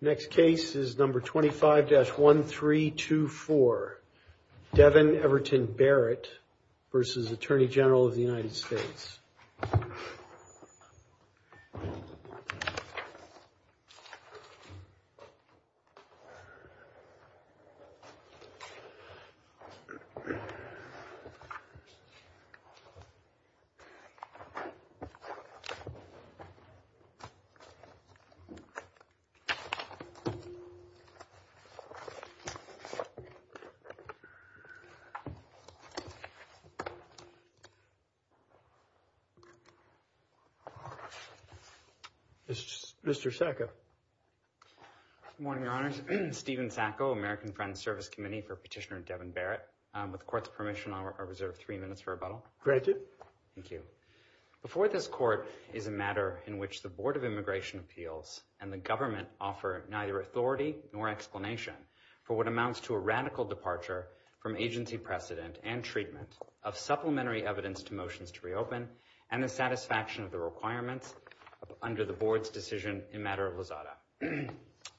Next case is number 25-1324. Devin Everton Barrett v. Attorney General of the United States. Stephen Sacco, American Friends Service Committee for Petitioner Devin Barrett. With the Court's permission, I will reserve three minutes for rebuttal. Before this Court is a matter in which the Board of Immigration Appeals and the government offer neither authority nor explanation for what amounts to a radical departure from agency precedent and treatment of supplementary evidence to motions to reopen and the satisfaction of the requirements under the Board's decision in matter of Lozada.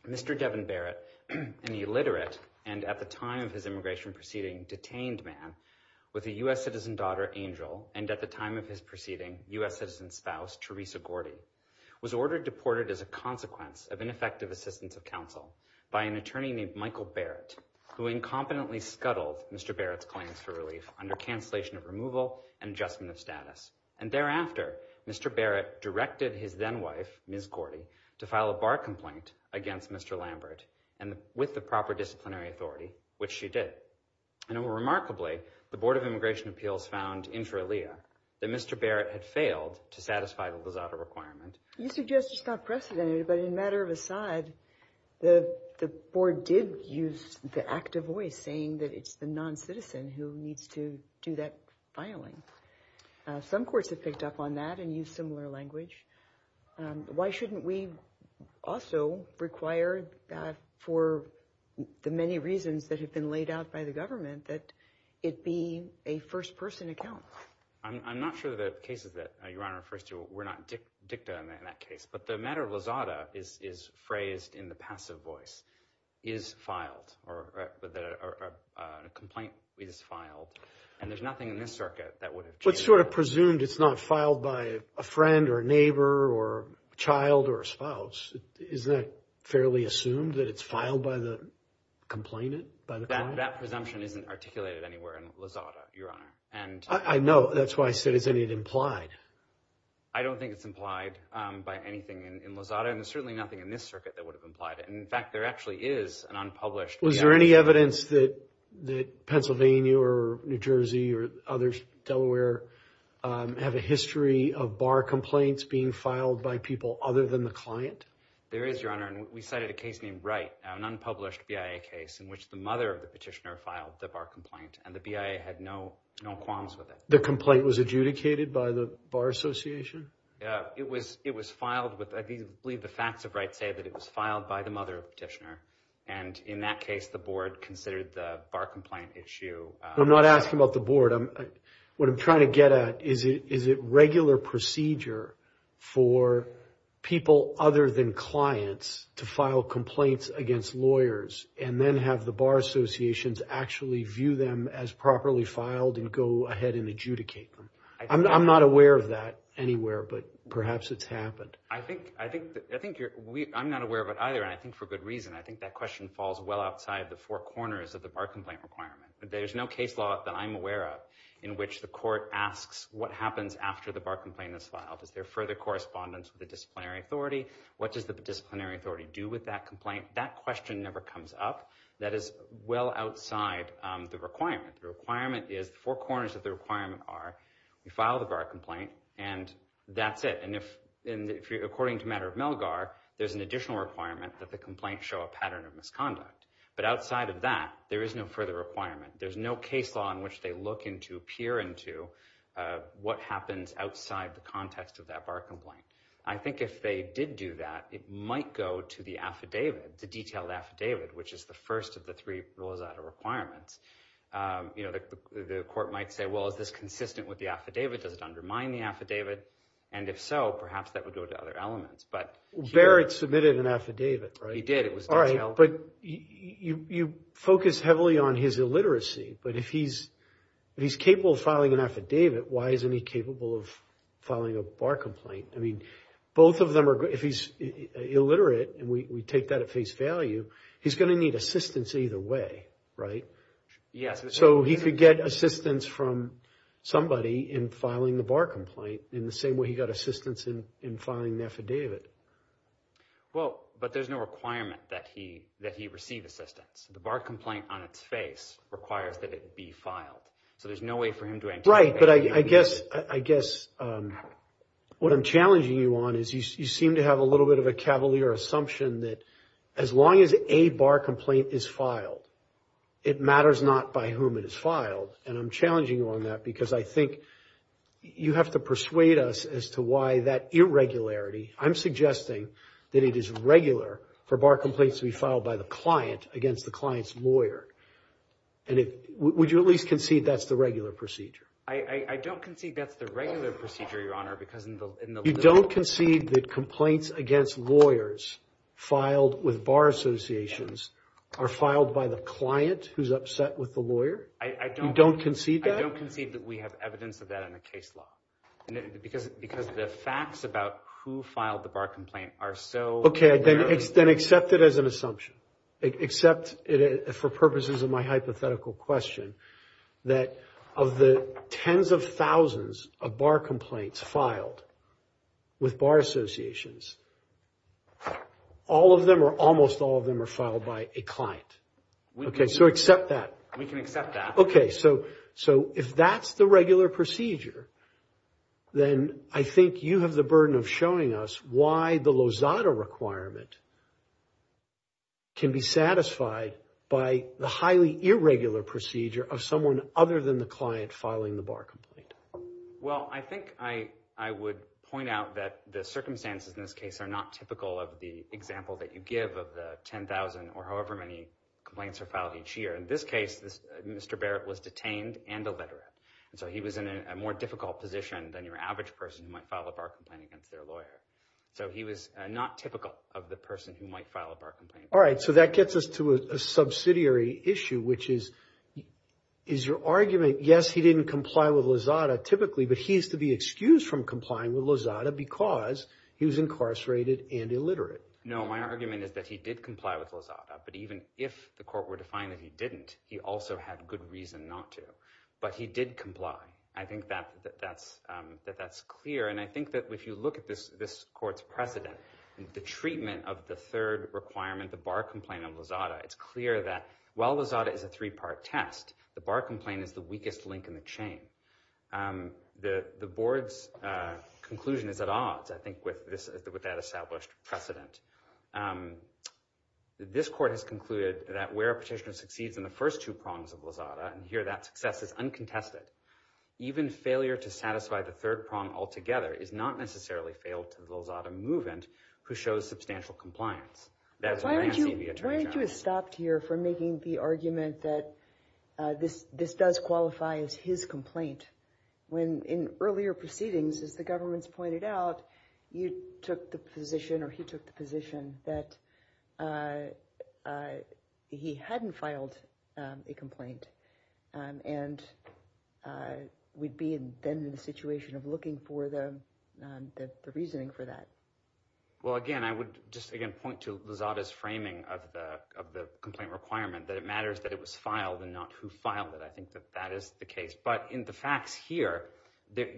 Mr. Devin Barrett, an illiterate and, at the time of his immigration proceeding, detained man with a U.S. citizen daughter, Angel, and, at the time of his proceeding, U.S. citizen spouse, Teresa Gordy, was ordered deported as a consequence of ineffective assistance of counsel by an attorney named Michael Barrett, who incompetently scuttled Mr. Barrett's claims for relief under cancellation of removal and adjustment of status. And thereafter, Mr. Barrett directed his then-wife, Ms. Gordy, to file a bar complaint against Mr. Lambert and with the proper disciplinary authority, which she did. And, remarkably, the Board of Immigration Appeals found inferior that Mr. Barrett had failed to satisfy the Lozada requirement. You suggest it's not precedented, but in matter of a side, the Board did use the active voice saying that it's the non-citizen who needs to do that filing. Some courts have picked up on that and use similar language. Why shouldn't we also require that for the many reasons that have been laid out by the government that it be a first-person account? I'm not sure that the cases that Your Honor refers to were not dicta in that case, but the matter of Lozada is phrased in the passive voice, is filed, or a complaint is filed, and there's nothing in this circuit that would have changed it. Well, it's sort of presumed it's not filed by a friend or a neighbor or a child or a Isn't that fairly assumed, that it's filed by the complainant, by the client? That presumption isn't articulated anywhere in Lozada, Your Honor. I know. That's why I said, isn't it implied? I don't think it's implied by anything in Lozada, and there's certainly nothing in this circuit that would have implied it. In fact, there actually is an unpublished BIA case. Was there any evidence that Pennsylvania or New Jersey or others, Delaware, have a history of bar complaints being filed by people other than the client? There is, Your Honor. We cited a case named Wright, an unpublished BIA case in which the mother of the petitioner filed the bar complaint, and the BIA had no qualms with it. The complaint was adjudicated by the Bar Association? It was filed with, I believe the facts of Wright say that it was filed by the mother of the petitioner, and in that case, the board considered the bar complaint issue. I'm not asking about the board. What I'm trying to get at, is it regular procedure for people other than clients to file complaints against lawyers, and then have the Bar Associations actually view them as properly filed and go ahead and adjudicate them? I'm not aware of that anywhere, but perhaps it's happened. I think you're... I'm not aware of it either, and I think for good reason. I think that question falls well outside the four corners of the bar complaint requirement. There's no case law that I'm aware of in which the court asks what happens after the bar complaint is filed. Is there further correspondence with the disciplinary authority? What does the disciplinary authority do with that complaint? That question never comes up. That is well outside the requirement. The requirement is, the four corners of the requirement are, you file the bar complaint, and that's it. And if, according to matter of Melgar, there's an additional requirement that the complaint show a pattern of misconduct. But outside of that, there is no further requirement. There's no case law in which they look into, peer into, what happens outside the context of that bar complaint. I think if they did do that, it might go to the affidavit, the detailed affidavit, which is the first of the three rules out of requirements. The court might say, well, is this consistent with the affidavit? Does it undermine the affidavit? And if so, perhaps that would go to other elements. Barrett submitted an affidavit, right? He did. It was detailed. All right, but you focus heavily on his illiteracy, but if he's capable of filing an affidavit, why isn't he capable of filing a bar complaint? I mean, both of them are, if he's illiterate, and we take that at face value, he's going to need assistance either way, right? Yes. So, he could get assistance from somebody in filing the bar complaint in the same way he got assistance in filing an affidavit. Well, but there's no requirement that he receive assistance. The bar complaint on its face requires that it be filed. So, there's no way for him to anticipate... That's right, but I guess what I'm challenging you on is you seem to have a little bit of a cavalier assumption that as long as a bar complaint is filed, it matters not by whom it is filed, and I'm challenging you on that because I think you have to persuade us as to why that irregularity, I'm suggesting that it is regular for bar complaints to be filed by the client against the client's lawyer, and would you at least concede that's the regular procedure? I don't concede that's the regular procedure, Your Honor, because in the... You don't concede that complaints against lawyers filed with bar associations are filed by the client who's upset with the lawyer? I don't... You don't concede that? I don't concede that we have evidence of that in the case law, because the facts about who filed the bar complaint are so... Okay, then accept it as an assumption. Accept it for purposes of my hypothetical question that of the tens of thousands of bar complaints filed with bar associations, all of them or almost all of them are filed by a client. Okay, so accept that. We can accept that. Okay, so if that's the regular procedure, then I think you have the burden of showing us why the Lozada requirement can be satisfied by the highly irregular procedure of someone other than the client filing the bar complaint. Well, I think I would point out that the circumstances in this case are not typical of the example that you give of the 10,000 or however many complaints are filed each year. In this case, Mr. Barrett was detained and illiterate, and so he was in a more difficult position than your average person who might file a bar complaint against their lawyer. So he was not typical of the person who might file a bar complaint. All right, so that gets us to a subsidiary issue, which is, is your argument, yes, he didn't comply with Lozada typically, but he is to be excused from complying with Lozada because he was incarcerated and illiterate. No, my argument is that he did comply with Lozada, but even if the court were to find that he didn't, he also had good reason not to. But he did comply. I think that's clear, and I think that if you look at this court's precedent, the treatment of the third requirement, the bar complaint of Lozada, it's clear that while Lozada is a three-part test, the bar complaint is the weakest link in the chain. The board's conclusion is at odds, I think, with that established precedent. This court has concluded that where a petitioner succeeds in the first two prongs of Lozada, and here that success is uncontested, even failure to satisfy the third prong altogether is not necessarily failed to Lozada Movent, who shows substantial compliance. Why aren't you, why aren't you stopped here for making the argument that this, this does qualify as his complaint, when in earlier proceedings, as the government's pointed out, you took the position, or he took the position, that he hadn't filed a complaint, and we'd be then in a situation of looking for the reasoning for that. Well, again, I would just again point to Lozada's framing of the complaint requirement, that it matters that it was filed and not who filed it. I think that that is the case. But in the facts here, the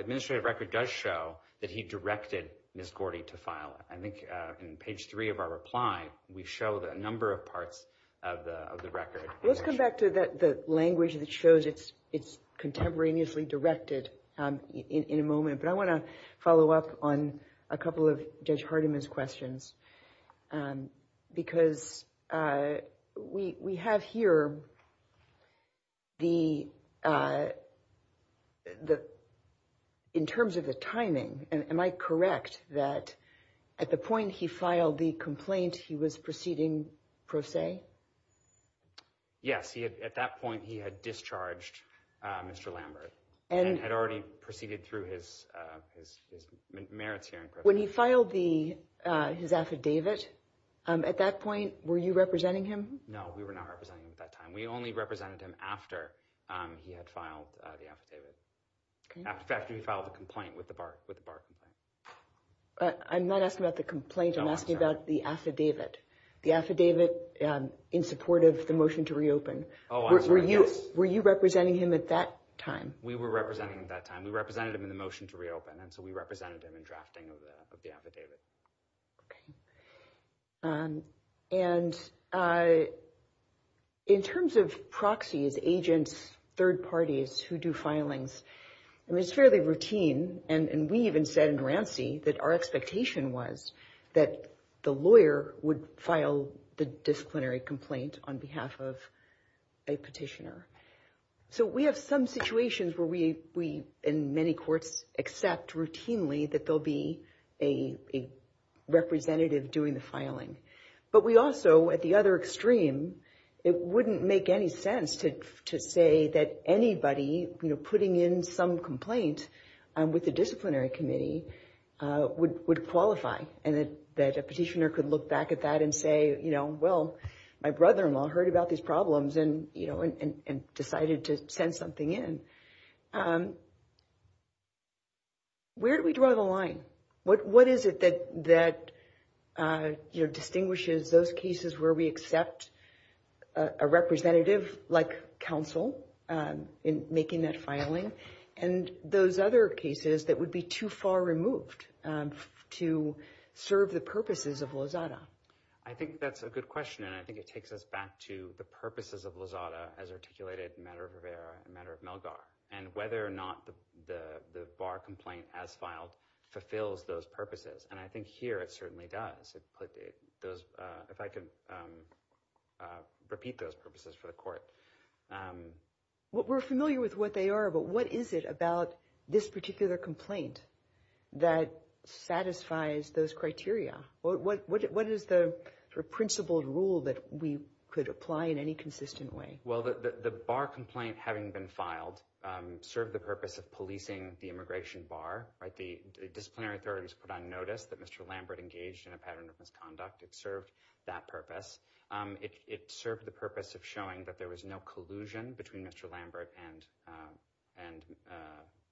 administrative record does show that he directed Ms. Gordy to file it. I think in page three of our reply, we show that a number of parts of the record. Let's come back to the language that shows it's contemporaneously directed in a moment, but I want to follow up on a couple of Judge Hardiman's questions, because we have here the, in terms of the timing, am I correct that at the point he filed the complaint, he was proceeding pro se? Yes, at that point, he had discharged Mr. Lambert, and had already proceeded through his merits hearing. When he filed his affidavit, at that point, were you representing him? No, we were not representing him at that time. We only represented him after he had filed the affidavit. In fact, after he filed the complaint with the Bar Complaint. I'm not asking about the complaint, I'm asking about the affidavit. The affidavit in support of the motion to reopen. Were you representing him at that time? We were representing him at that time. We represented him in the motion to reopen, and so we represented him in drafting of the affidavit. And in terms of proxies, agents, third parties who do filings, I mean, it's fairly routine. And we even said in Ranci that our expectation was that the lawyer would file the disciplinary complaint on behalf of a petitioner. So we have some situations where we, in many courts, accept routinely that there'll be a representative doing the filing. But we also, at the other extreme, it wouldn't make any sense to say that anybody putting in some complaint with the disciplinary committee would qualify. And that a petitioner could look back at that and say, you know, well, my brother-in-law heard about these problems and, you know, and decided to send something in. Where do we draw the line? What is it that, you know, distinguishes those cases where we accept a representative like counsel in making that filing, and those other cases that would be too far removed to serve the purposes of Lozada? I think that's a good question, and I think it takes us back to the purposes of Lozada as articulated in Matter of Rivera and Matter of Melgar, and whether or not the bar complaint as filed fulfills those purposes. And I think here it certainly does. If I could repeat those purposes for the court. We're familiar with what they are, but what is it about this particular complaint that satisfies those criteria? What is the principled rule that we could apply in any consistent way? Well, the bar complaint having been filed served the purpose of policing the immigration bar, right? The disciplinary authorities put on notice that Mr. Lambert engaged in a pattern of misconduct. It served that purpose. It served the purpose of showing that there was no collusion between Mr. Lambert and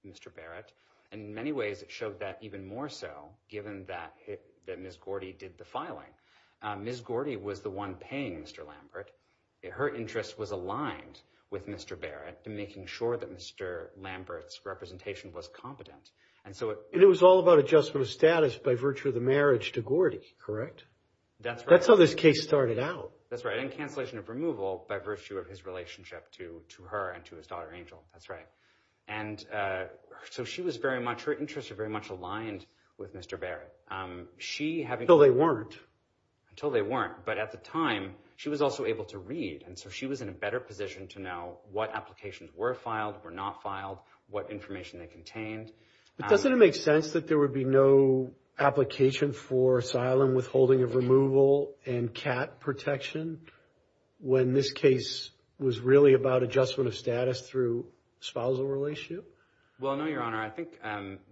Mr. Barrett. In many ways, it showed that even more so, given that Ms. Gordy did the filing. Ms. Gordy was the one paying Mr. Lambert. Her interest was aligned with Mr. Barrett in making sure that Mr. Lambert's representation was competent. And so it was all about adjustment of status by virtue of the marriage to Gordy, correct? That's how this case started out. That's right. And cancellation of removal by virtue of his relationship to her and to his daughter, Angel. That's right. And so she was very much, her interests were very much aligned with Mr. Barrett. She having- Until they weren't. Until they weren't. But at the time, she was also able to read. And so she was in a better position to know what applications were filed, were not filed, what information they contained. But doesn't it make sense that there would be no application for asylum withholding of removal and CAT protection when this case was really about adjustment of status through the spousal relationship? Well, no, Your Honor. I think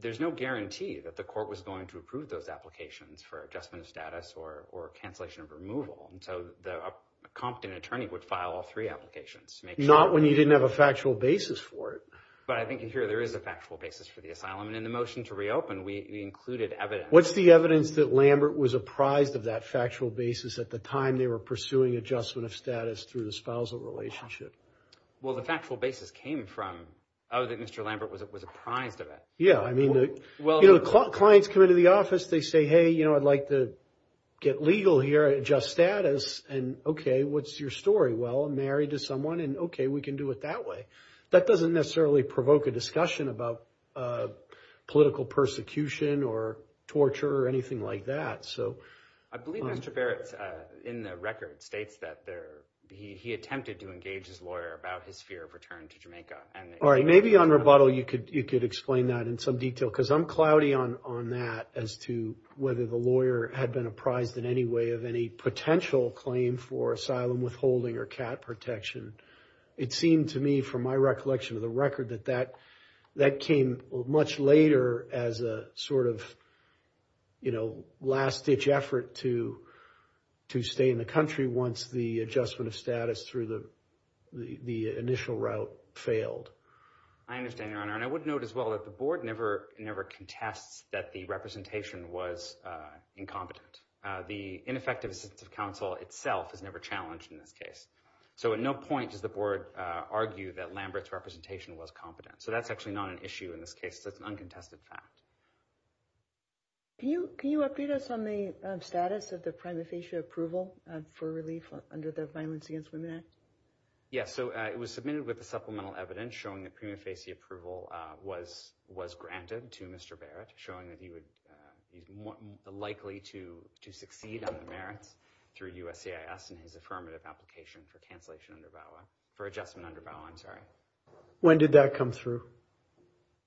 there's no guarantee that the court was going to approve those applications for adjustment of status or cancellation of removal. And so a competent attorney would file all three applications to make sure- Not when you didn't have a factual basis for it. But I think here there is a factual basis for the asylum. And in the motion to reopen, we included evidence. What's the evidence that Lambert was apprised of that factual basis at the time they were pursuing adjustment of status through the spousal relationship? Well, the factual basis came from, oh, that Mr. Lambert was apprised of it. Yeah. I mean, clients come into the office, they say, hey, I'd like to get legal here, adjust status. And, okay, what's your story? Well, I'm married to someone. And, okay, we can do it that way. That doesn't necessarily provoke a discussion about political persecution or torture or anything like that. I believe Mr. Barrett, in the record, states that he attempted to engage his lawyer about his fear of return to Jamaica. All right. Maybe on rebuttal you could explain that in some detail, because I'm cloudy on that as to whether the lawyer had been apprised in any way of any potential claim for asylum withholding or cat protection. It seemed to me, from my recollection of the record, that that came much later as a sort of, you know, last-ditch effort to stay in the country once the adjustment of status through the initial route failed. I understand, Your Honor, and I would note as well that the board never contests that the representation was incompetent. The ineffective assistance of counsel itself is never challenged in this case. So at no point does the board argue that Lambert's representation was competent. So that's actually not an issue in this case. That's an uncontested fact. Can you update us on the status of the prima facie approval for relief under the Violence Against Women Act? Yes. So it was submitted with the supplemental evidence showing that prima facie approval was granted to Mr. Barrett, showing that he was likely to succeed on the merits through USCIS in his affirmative application for cancellation under VAWA, for adjustment under VAWA, I'm sorry. When did that come through?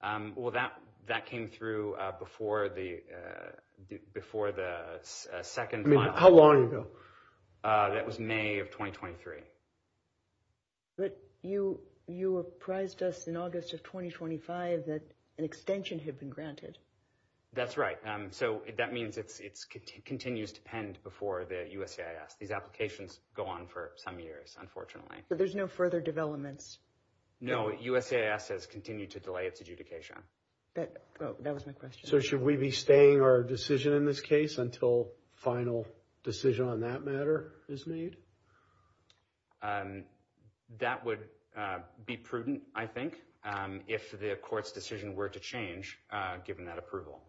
Well, that came through before the second final. I mean, how long ago? That was May of 2023. But you apprised us in August of 2025 that an extension had been granted. That's right. So that means it continues to pend before the USCIS. These applications go on for some years, unfortunately. But there's no further developments? No. USCIS has continued to delay its adjudication. That was my question. So should we be staying our decision in this case until a final decision on that matter is made? That would be prudent, I think, if the court's decision were to change given that approval.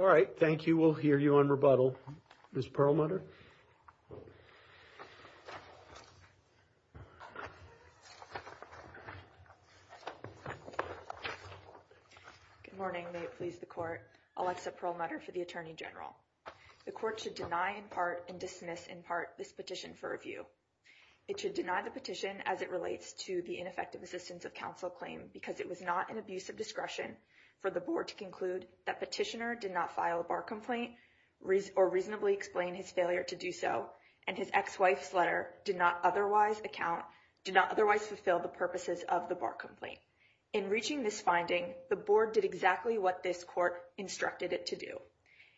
All right. Thank you. We'll hear you on rebuttal. Ms. Perlmutter? Good morning. May it please the Court. Alexa Perlmutter for the Attorney General. The court should deny in part and dismiss in part this petition for review. It should deny the petition as it relates to the ineffective assistance of counsel claim because it was not an abuse of discretion for the board to conclude that petitioner did not file a bar complaint or reasonably explain his failure to do so, and his ex-wife's letter did not otherwise account, did not otherwise fulfill the purposes of the bar complaint. In reaching this finding, the board did exactly what this court instructed it to do.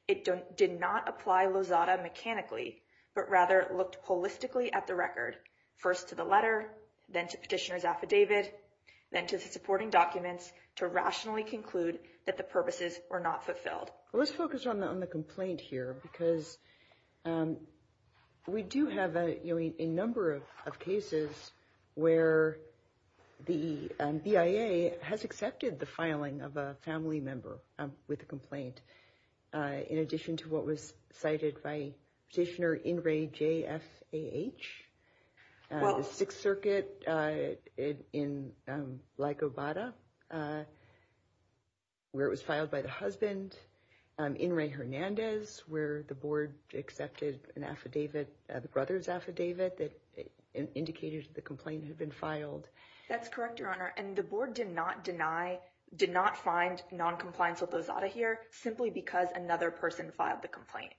It did not apply Lozada mechanically, but rather looked holistically at the record, first to the letter, then to petitioner's affidavit, then to the supporting documents to rationally conclude that the purposes were not fulfilled. Let's focus on the complaint here because we do have a number of cases where the BIA has accepted the filing of a family member with a complaint, in addition to what was where it was filed by the husband, in Ray Hernandez, where the board accepted an affidavit, the brother's affidavit that indicated the complaint had been filed. That's correct, Your Honor. And the board did not deny, did not find noncompliance with Lozada here simply because another person filed the complaint.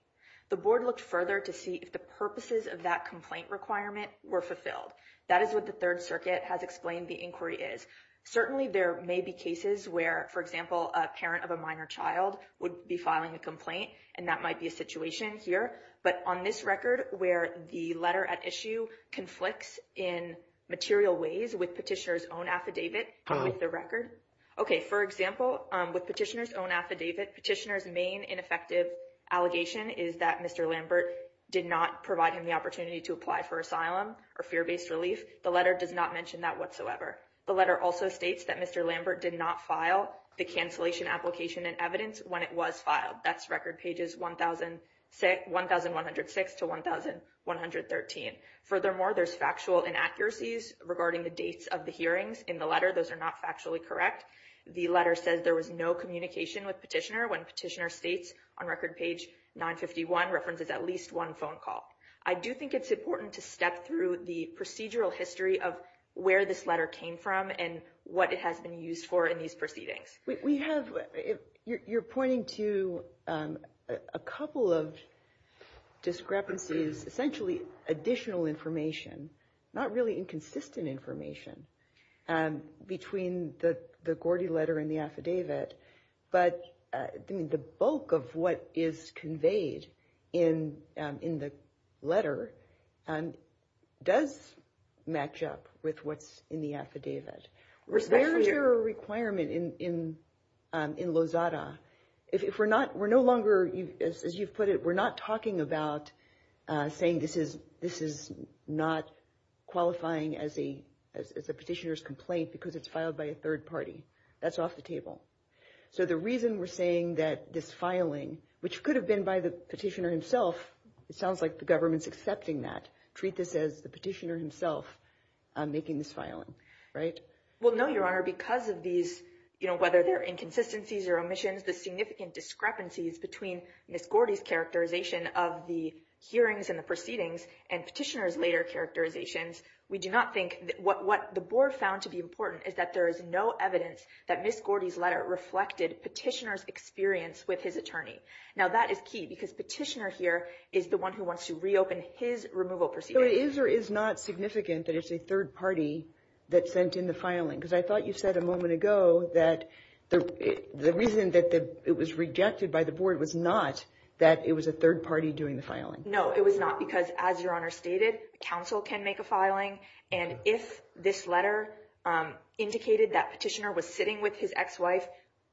The board looked further to see if the purposes of that complaint requirement were fulfilled. That is what the Third Circuit has explained the inquiry is. Certainly, there may be cases where, for example, a parent of a minor child would be filing a complaint, and that might be a situation here. But on this record where the letter at issue conflicts in material ways with petitioner's own affidavit, with the record. Okay, for example, with petitioner's own affidavit, petitioner's main ineffective allegation is that Mr. Lambert did not provide him the opportunity to apply for asylum or fear-based relief. The letter does not mention that whatsoever. The letter also states that Mr. Lambert did not file the cancellation application and evidence when it was filed. That's record pages 1,106 to 1,113. Furthermore, there's factual inaccuracies regarding the dates of the hearings in the Those are not factually correct. The letter says there was no communication with petitioner when petitioner states on record page 951 references at least one phone call. I do think it's important to step through the procedural history of where this letter came from and what it has been used for in these proceedings. We have, you're pointing to a couple of discrepancies, essentially additional information, not really inconsistent information, between the Gordy letter and the affidavit. But the bulk of what is conveyed in the letter does match up with what's in the affidavit. Was there a requirement in Lozada? If we're not, we're no longer, as you've put it, we're not talking about saying this is not qualifying as a petitioner's complaint because it's filed by a third party. That's off the table. So the reason we're saying that this filing, which could have been by the petitioner himself, it sounds like the government's accepting that. Treat this as the petitioner himself making this filing, right? Well, no, Your Honor, because of these, you know, whether they're inconsistencies or omissions, the significant discrepancies between Miss Gordy's characterization of the hearings and the proceedings and petitioner's later characterizations. We do not think what the board found to be important is that there is no evidence that Miss Gordy's letter reflected petitioner's experience with his attorney. Now, that is key because petitioner here is the one who wants to reopen his removal proceedings. So it is or is not significant that it's a third party that sent in the filing? Because I thought you said a moment ago that the reason that it was rejected by the board was not that it was a third party doing the filing. No, it was not because, as Your Honor stated, counsel can make a filing. And if this letter indicated that petitioner was sitting with his ex-wife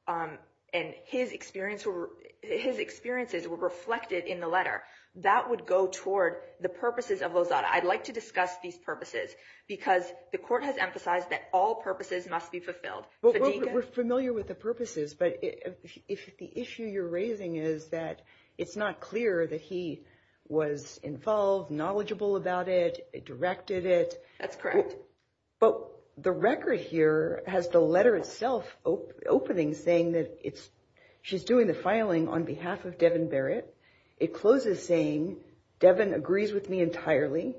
and his experience, his experiences were reflected in the letter, that would go toward the purposes of Lozada. I'd like to discuss these purposes because the court has emphasized that all purposes must be fulfilled. We're familiar with the purposes, but if the issue you're raising is that it's not clear that he was involved, knowledgeable about it, directed it. That's correct. But the record here has the letter itself opening, saying that she's doing the filing on behalf of Devin Barrett. It closes saying, Devin agrees with me entirely,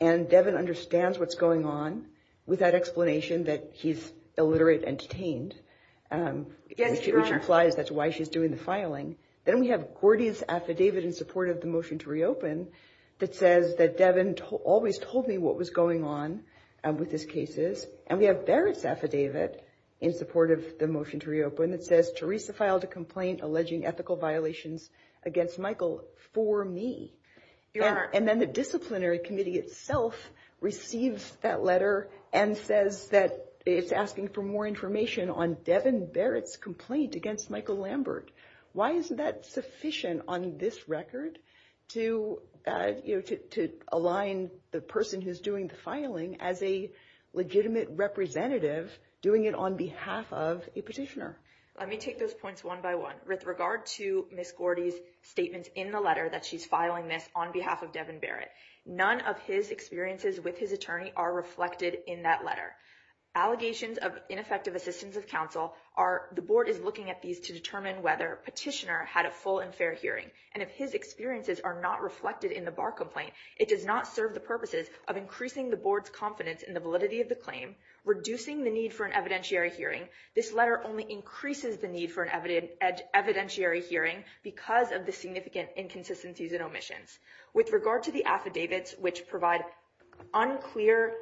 and Devin understands what's going on, with that explanation that he's illiterate and detained, which implies that's why she's doing the filing. Then we have Gordy's affidavit in support of the motion to reopen that says that Devin always told me what was going on with his cases. And we have Barrett's affidavit in support of the motion to reopen that says, Teresa filed a complaint alleging ethical violations against Michael for me. And then the disciplinary committee itself receives that letter and says that it's asking for more information on Devin Barrett's complaint against Michael Lambert. Why isn't that sufficient on this record to align the person who's doing the filing as a legitimate representative doing it on behalf of a petitioner? Let me take those points one by one with regard to Miss Gordy's statements in the letter that she's filing this on behalf of Devin Barrett. None of his experiences with his attorney are reflected in that letter. Allegations of ineffective assistance of counsel are the board is looking at these to determine whether petitioner had a full and fair hearing. And if his experiences are not reflected in the bar complaint, it does not serve the purposes of increasing the board's confidence in the validity of the claim, reducing the need for an evidentiary hearing. This letter only increases the need for an evidentiary hearing because of the significant inconsistencies and omissions with regard to the affidavits, which provide unclear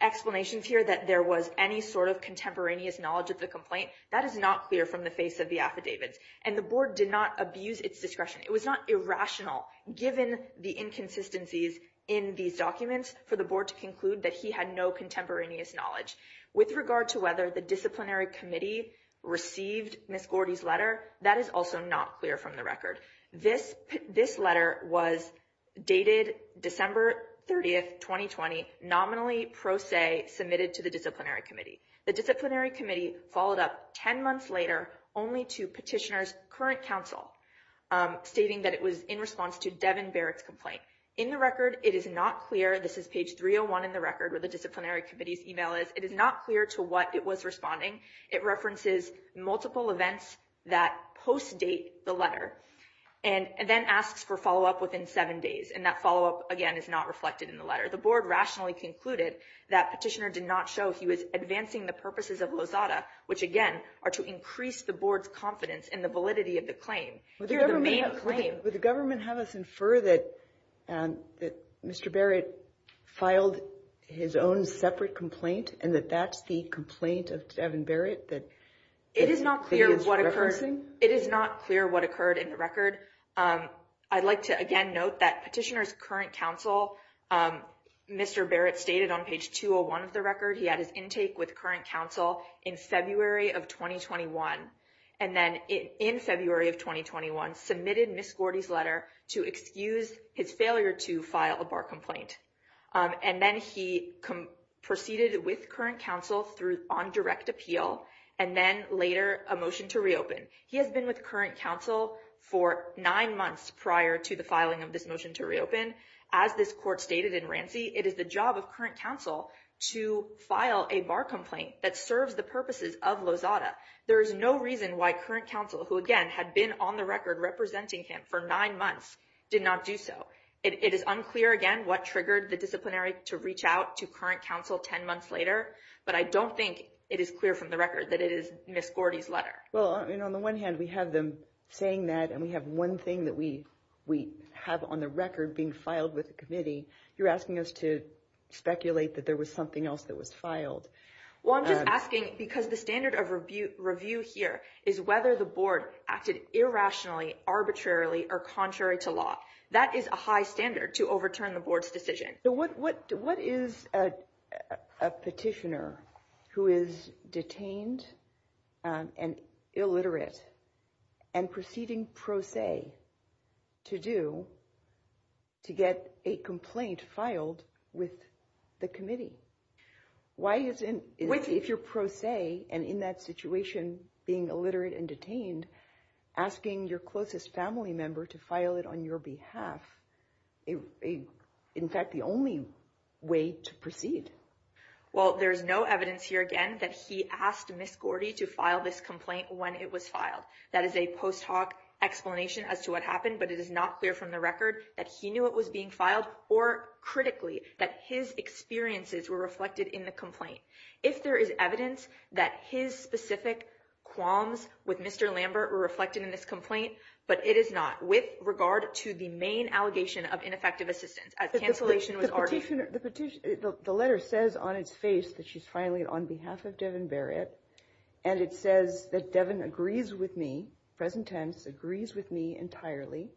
explanations here that there was any sort of contemporaneous knowledge of the complaint. That is not clear from the face of the affidavits. And the board did not abuse its discretion. It was not irrational given the inconsistencies in these documents for the board to conclude that he had no contemporaneous knowledge. With regard to whether the disciplinary committee received Miss Gordy's letter, that is also not clear from the record. This this letter was dated December 30th, 2020, nominally pro se submitted to the disciplinary committee. The disciplinary committee followed up 10 months later only to petitioner's current counsel stating that it was in response to Devin Barrett's complaint. In the record, it is not clear. This is page 301 in the record where the disciplinary committee's email is. It is not clear to what it was responding. It references multiple events that post date the letter and then asks for follow up within seven days. And that follow up, again, is not reflected in the letter. The board rationally concluded that petitioner did not show he was advancing the purposes of Lozada, which, again, are to increase the board's confidence in the validity of the claim. Would the government have us infer that Mr. Barrett filed his own separate complaint and that that's the complaint of Devin Barrett? It is not clear what occurred. It is not clear what occurred in the record. I'd like to again note that petitioner's current counsel, Mr. Barrett, stated on page 201 of the record he had his intake with current counsel in February of 2021. And then in February of 2021, submitted Miss Gordy's letter to excuse his failure to file a bar complaint. And then he proceeded with current counsel through on direct appeal and then later a motion to reopen. He has been with current counsel for nine months prior to the filing of this motion to reopen. As this court stated in Rancy, it is the job of current counsel to file a bar complaint that serves the purposes of Lozada. There is no reason why current counsel, who, again, had been on the record representing him for nine months, did not do so. It is unclear, again, what triggered the disciplinary to reach out to current counsel 10 months later. But I don't think it is clear from the record that it is Miss Gordy's letter. Well, on the one hand, we have them saying that and we have one thing that we have on the record being filed with the committee. You're asking us to speculate that there was something else that was filed. Well, I'm just asking because the standard of review here is whether the board acted irrationally, arbitrarily or contrary to law. That is a high standard to overturn the board's decision. What what what is a petitioner who is detained and illiterate and proceeding pro se to do to get a complaint filed with the committee? Why isn't it if you're pro se and in that situation being illiterate and detained, asking your closest family member to file it on your behalf? In fact, the only way to proceed. Well, there's no evidence here, again, that he asked Miss Gordy to file this complaint when it was filed. That is a post hoc explanation as to what happened. But it is not clear from the record that he knew it was being filed or critically that his experiences were reflected in the complaint. If there is evidence that his specific qualms with Mr. Lambert were reflected in this complaint. But it is not with regard to the main allegation of ineffective assistance. A cancellation was already the petition. The letter says on its face that she's filing it on behalf of Devin Barrett. And it says that Devin agrees with me. Present tense agrees with me entirely.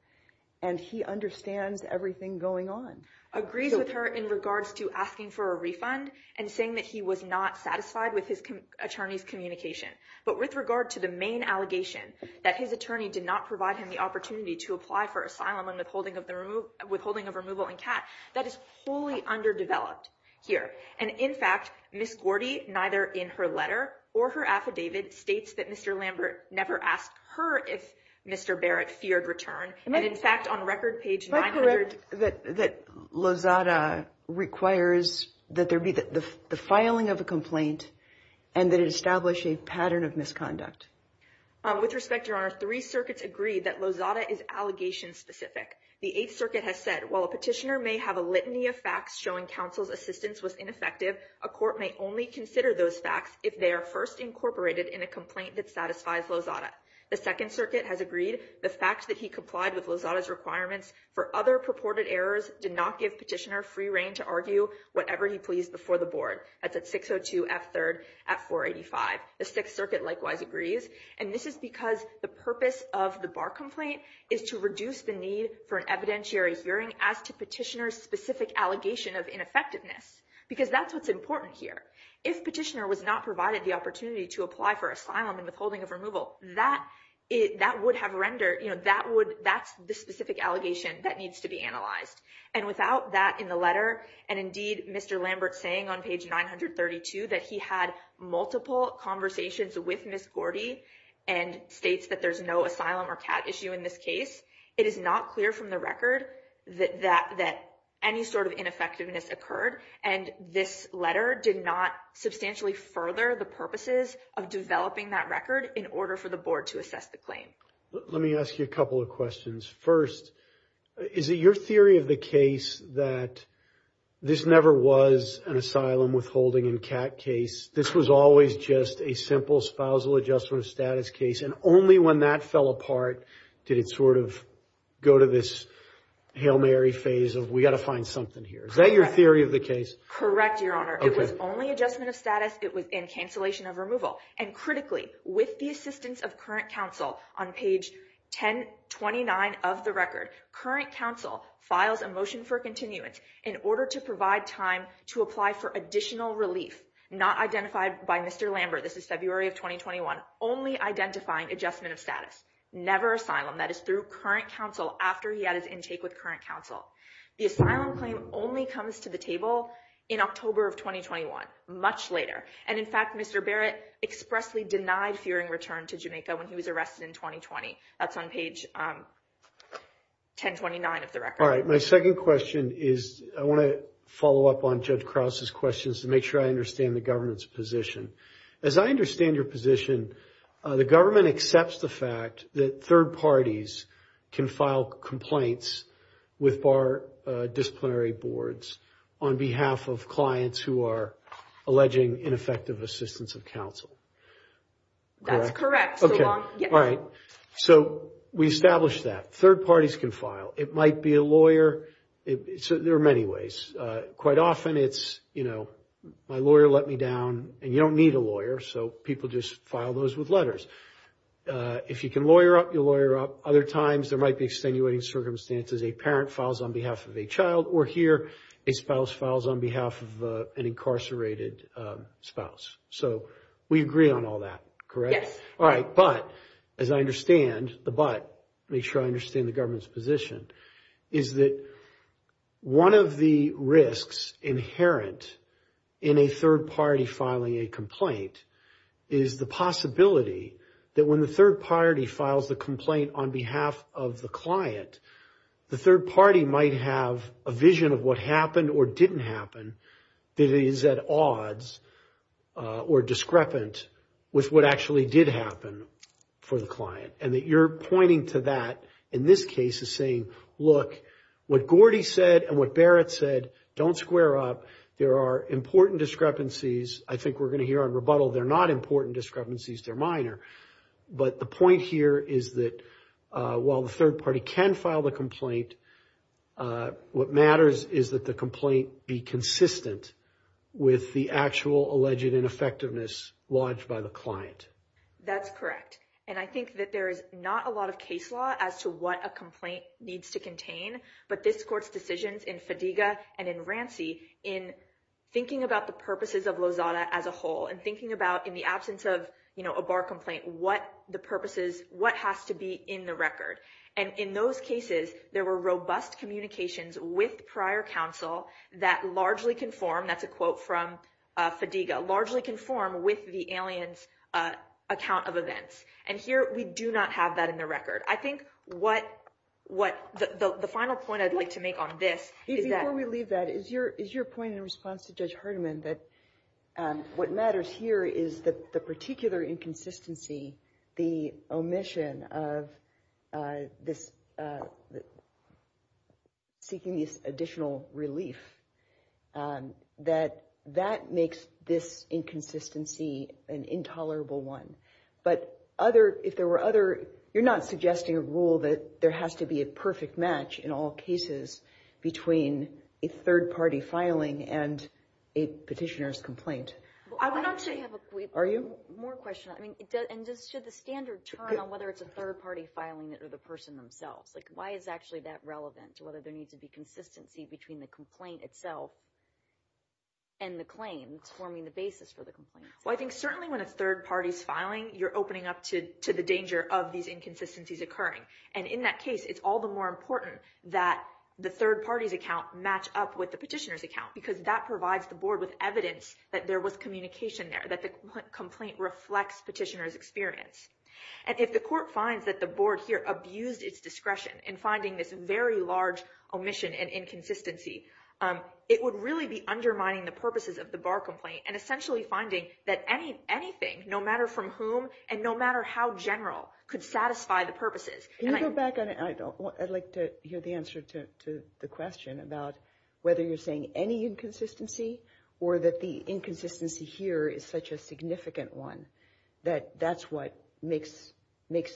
And he understands everything going on. Agrees with her in regards to asking for a refund and saying that he was not satisfied with his attorney's communication. But with regard to the main allegation that his attorney did not provide him the opportunity to apply for asylum and withholding of the room, withholding of removal and cat. That is wholly underdeveloped here. And in fact, Miss Gordy, neither in her letter or her affidavit, states that Mr. Lambert never asked her if Mr. Barrett feared return. And in fact, on record page that that Lozada requires that there be the filing of a complaint and that establish a pattern of misconduct. With respect to our three circuits agree that Lozada is allegation specific. The Eighth Circuit has said, well, a petitioner may have a litany of facts showing counsel's assistance was ineffective. A court may only consider those facts if they are first incorporated in a complaint that satisfies Lozada. The Second Circuit has agreed the fact that he complied with Lozada's requirements for other purported errors did not give petitioner free reign to argue whatever he pleased before the board. That's at 602 F third at 485. The Sixth Circuit likewise agrees. And this is because the purpose of the bar complaint is to reduce the need for an evidentiary hearing as to petitioner specific allegation of ineffectiveness. Because that's what's important here. If petitioner was not provided the opportunity to apply for asylum and withholding of removal, that that would have rendered that would that's the specific allegation that needs to be analyzed. And without that in the letter, and indeed, Mr. Lambert saying on page 932 that he had multiple conversations with Miss Gordy and states that there's no asylum or cat issue in this case. It is not clear from the record that that that any sort of ineffectiveness occurred. And this letter did not substantially further the purposes of developing that record in order for the board to assess the claim. Let me ask you a couple of questions. First, is it your theory of the case that this never was an asylum withholding and cat case? This was always just a simple spousal adjustment status case. And only when that fell apart, did it sort of go to this Hail Mary phase of we got to find something here. Is that your theory of the case? Correct, Your Honor. It was only adjustment of status. It was in cancellation of removal. And critically, with the assistance of current counsel on page 1029 of the record, current counsel files a motion for continuance in order to provide time to apply for additional relief. Not identified by Mr. Lambert. This is February of 2021. Only identifying adjustment of status. Never asylum. That is through current counsel after he had his intake with current counsel. The asylum claim only comes to the table in October of 2021. Much later. And in fact, Mr. Barrett expressly denied fearing return to Jamaica when he was arrested in 2020. That's on page 1029 of the record. All right. My second question is I want to follow up on Judge Krause's questions to make sure I understand the government's position. As I understand your position, the government accepts the fact that third parties can file complaints with bar disciplinary boards on behalf of clients who are alleging ineffective assistance of counsel. That's correct. All right. So we established that. Third parties can file. It might be a lawyer. There are many ways. Quite often it's, you know, my lawyer let me down and you don't need a lawyer. So people just file those with letters. If you can lawyer up, you lawyer up. Other times there might be extenuating circumstances. A parent files on behalf of a child or here a spouse files on behalf of an incarcerated spouse. So we agree on all that. Correct? All right. But as I understand the but, make sure I understand the government's position, is that one of the risks inherent in a third party filing a complaint is the possibility that when the third party files the complaint on behalf of the client, the third party might have a vision of what happened or didn't happen that is at odds or discrepant with what actually did happen for the client. And that you're pointing to that in this case as saying, look, what Gordy said and what Barrett said, don't square up. There are important discrepancies. I think we're going to hear on rebuttal they're not important discrepancies. They're minor. But the point here is that while the third party can file the complaint, what matters is that the complaint be consistent with the actual alleged ineffectiveness lodged by the client. That's correct. And I think that there is not a lot of case law as to what a complaint needs to contain. But this court's decisions in Fadiga and in Rancy in thinking about the purposes of Lozada as a whole and thinking about in the absence of a bar complaint, what the purposes, what has to be in the record. And in those cases, there were robust communications with prior counsel that largely conform. That's a quote from Fadiga, largely conform with the alien's account of events. And here we do not have that in the record. I think what what the final point I'd like to make on this. Before we leave that, is your is your point in response to Judge Hardiman that what matters here is that the particular inconsistency, the omission of this seeking this additional relief, that that makes this inconsistency an intolerable one. But other if there were other you're not suggesting a rule that there has to be a perfect match in all cases between a third party filing and a petitioner's complaint. I would actually have a more question. And just should the standard turn on whether it's a third party filing it or the person themselves? Like, why is actually that relevant to whether there needs to be consistency between the complaint itself? And the claim forming the basis for the complaint. Well, I think certainly when a third party's filing, you're opening up to the danger of these inconsistencies occurring. And in that case, it's all the more important that the third party's account match up with the petitioner's account, because that provides the board with evidence that there was communication there, that the complaint reflects petitioner's experience. And if the court finds that the board here abused its discretion in finding this very large omission and inconsistency, it would really be undermining the purposes of the bar complaint and essentially finding that anything, no matter from whom and no matter how general, could satisfy the purposes. Can you go back on it? I'd like to hear the answer to the question about whether you're saying any inconsistency or that the inconsistency here is such a significant one that that's what makes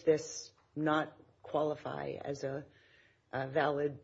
this not qualify as a valid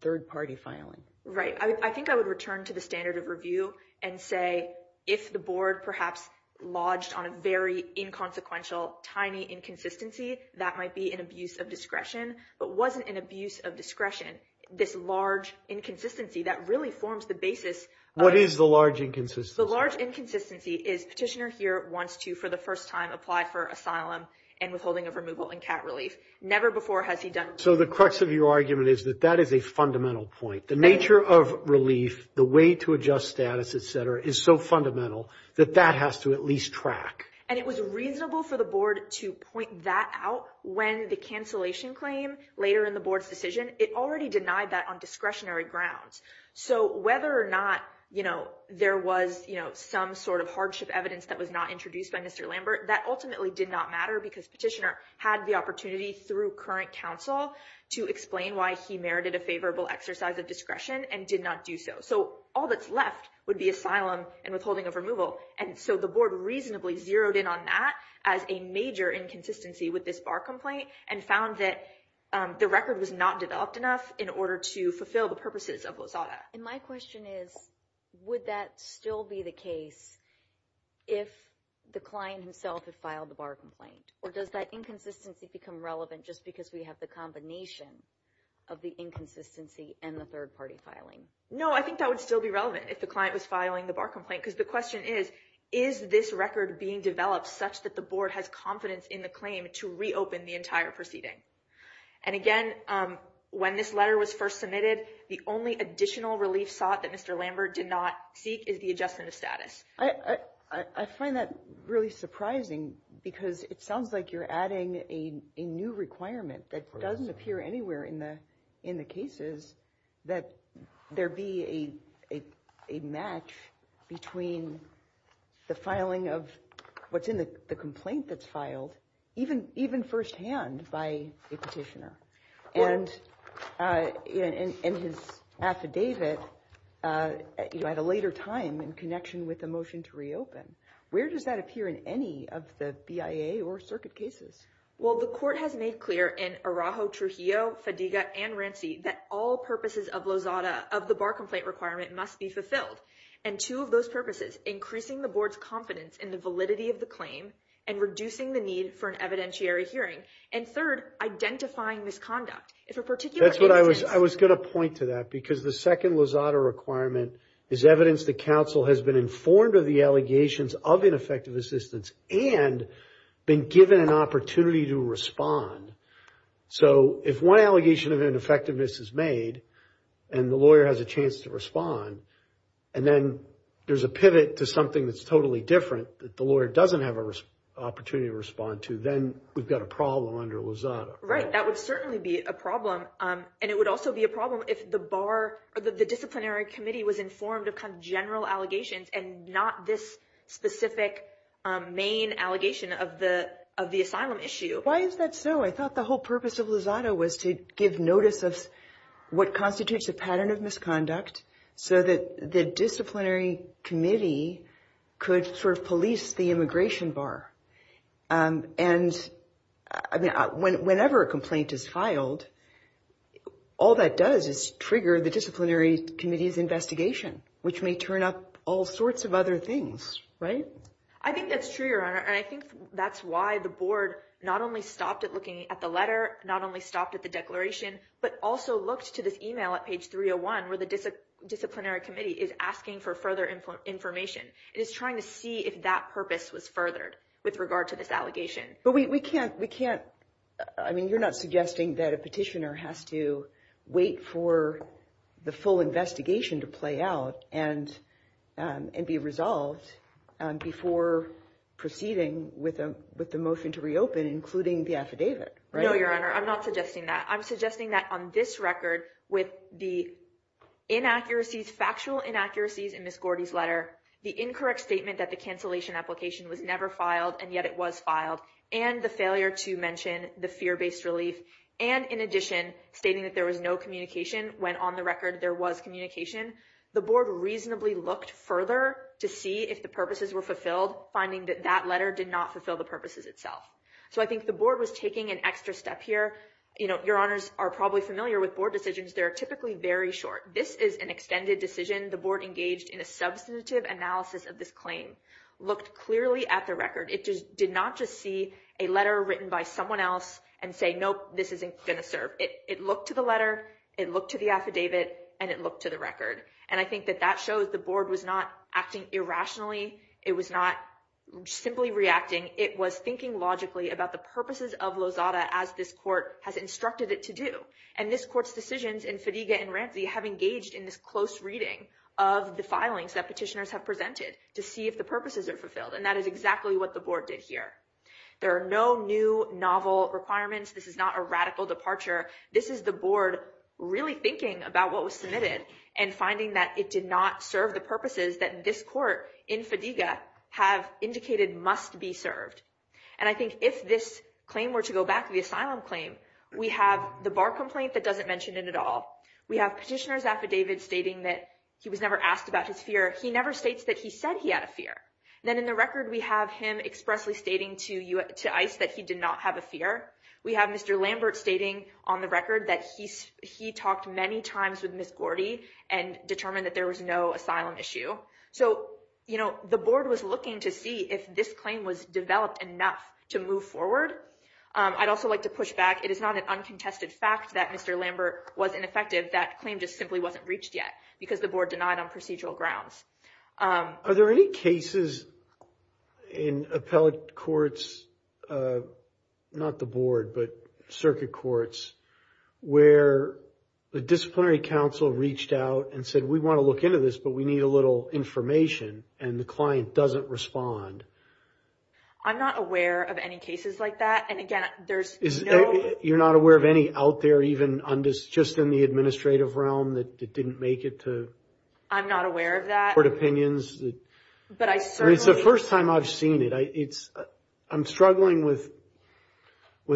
third party filing. Right. I think I would return to the standard of review and say, if the board perhaps lodged on a very inconsequential, tiny inconsistency, that might be an abuse of discretion, but wasn't an abuse of discretion, this large inconsistency that really forms the basis. What is the large inconsistency? The large inconsistency is petitioner here wants to, for the first time, apply for asylum and withholding of removal and cat relief. Never before has he done. So the crux of your argument is that that is a fundamental point. The nature of relief, the way to adjust status, et cetera, is so fundamental that that has to at least track. And it was reasonable for the board to point that out when the cancellation claim later in the board's decision. It already denied that on discretionary grounds. So whether or not, you know, there was some sort of hardship evidence that was not introduced by Mr. Lambert, that ultimately did not matter because petitioner had the opportunity through current counsel to explain why he merited a favorable exercise of discretion and did not do so. So all that's left would be asylum and withholding of removal. And so the board reasonably zeroed in on that as a major inconsistency with this bar complaint and found that the record was not developed enough in order to fulfill the purposes of WSSADA. And my question is, would that still be the case if the client himself had filed the bar complaint? Or does that inconsistency become relevant just because we have the combination of the inconsistency and the third party filing? No, I think that would still be relevant if the client was filing the bar complaint, because the question is, is this record being developed such that the board has confidence in the claim to reopen the entire proceeding? And again, when this letter was first submitted, the only additional relief sought that Mr. Lambert did not seek is the adjustment of status. I find that really surprising, because it sounds like you're adding a new requirement that doesn't appear anywhere in the cases that there be a match between the filing of what's in the complaint that's filed, even firsthand by a petitioner. And in his affidavit at a later time in connection with the motion to reopen, where does that appear in any of the BIA or circuit cases? Well, the court has made clear in Araujo, Trujillo, Fadiga, and Rancey that all purposes of WSSADA of the bar complaint requirement must be fulfilled. And two of those purposes, increasing the board's confidence in the validity of the claim and reducing the need for an evidentiary hearing. And third, identifying misconduct. I was going to point to that, because the second WSSADA requirement is evidence that counsel has been informed of the allegations of ineffective assistance and been given an opportunity to respond. So if one allegation of ineffectiveness is made and the lawyer has a chance to respond, and then there's a pivot to something that's totally different that the lawyer doesn't have an opportunity to respond to, then we've got a problem under WSSADA. Right. That would certainly be a problem. And it would also be a problem if the disciplinary committee was informed of general allegations and not this specific main allegation of the asylum issue. Why is that so? I thought the whole purpose of WSSADA was to give notice of what constitutes a pattern of misconduct so that the disciplinary committee could sort of police the immigration bar. And I mean, whenever a complaint is filed, all that does is trigger the disciplinary committee's investigation, which may turn up all sorts of other things. Right. I think that's true, Your Honor. And I think that's why the board not only stopped at looking at the letter, not only stopped at the declaration, but also looked to this email at page 301 where the disciplinary committee is asking for further information. It is trying to see if that purpose was furthered with regard to this allegation. But we can't. We can't. I mean, you're not suggesting that a petitioner has to wait for the full investigation to play out and be resolved before proceeding with the motion to reopen, including the affidavit. No, Your Honor, I'm not suggesting that. I'm suggesting that on this record with the inaccuracies, factual inaccuracies in Ms. Gordy's letter, the incorrect statement that the cancellation application was never filed, and yet it was filed, and the failure to mention the fear-based relief, and in addition, stating that there was no communication when on the record there was communication, the board reasonably looked further to see if the purposes were fulfilled, finding that that letter did not fulfill the purposes itself. So I think the board was taking an extra step here. Your Honors are probably familiar with board decisions. They're typically very short. This is an extended decision. The board engaged in a substantive analysis of this claim, looked clearly at the record. It did not just see a letter written by someone else and say, nope, this isn't going to serve. It looked to the letter, it looked to the affidavit, and it looked to the record. And I think that that shows the board was not acting irrationally. It was not simply reacting. It was thinking logically about the purposes of Lozada as this court has instructed it to do. And this court's decisions in Fadiga and Ramsey have engaged in this close reading of the filings that petitioners have presented to see if the purposes are fulfilled, and that is exactly what the board did here. There are no new novel requirements. This is not a radical departure. This is the board really thinking about what was submitted and finding that it did not serve the purposes that this court in Fadiga have indicated must be served. And I think if this claim were to go back to the asylum claim, we have the bar complaint that doesn't mention it at all. We have petitioner's affidavit stating that he was never asked about his fear. He never states that he said he had a fear. Then in the record, we have him expressly stating to ICE that he did not have a fear. We have Mr. Lambert stating on the record that he talked many times with Ms. Gordy and determined that there was no asylum issue. So, you know, the board was looking to see if this claim was developed enough to move forward. I'd also like to push back. It is not an uncontested fact that Mr. Lambert was ineffective. That claim just simply wasn't reached yet because the board denied on procedural grounds. Are there any cases in appellate courts, not the board, but circuit courts, where the disciplinary counsel reached out and said, we want to look into this, but we need a little information and the client doesn't respond? I'm not aware of any cases like that. And again, there's no... You're not aware of any out there even just in the administrative realm that didn't make it to... I'm not aware of that. But it's the first time I've seen it. I'm struggling with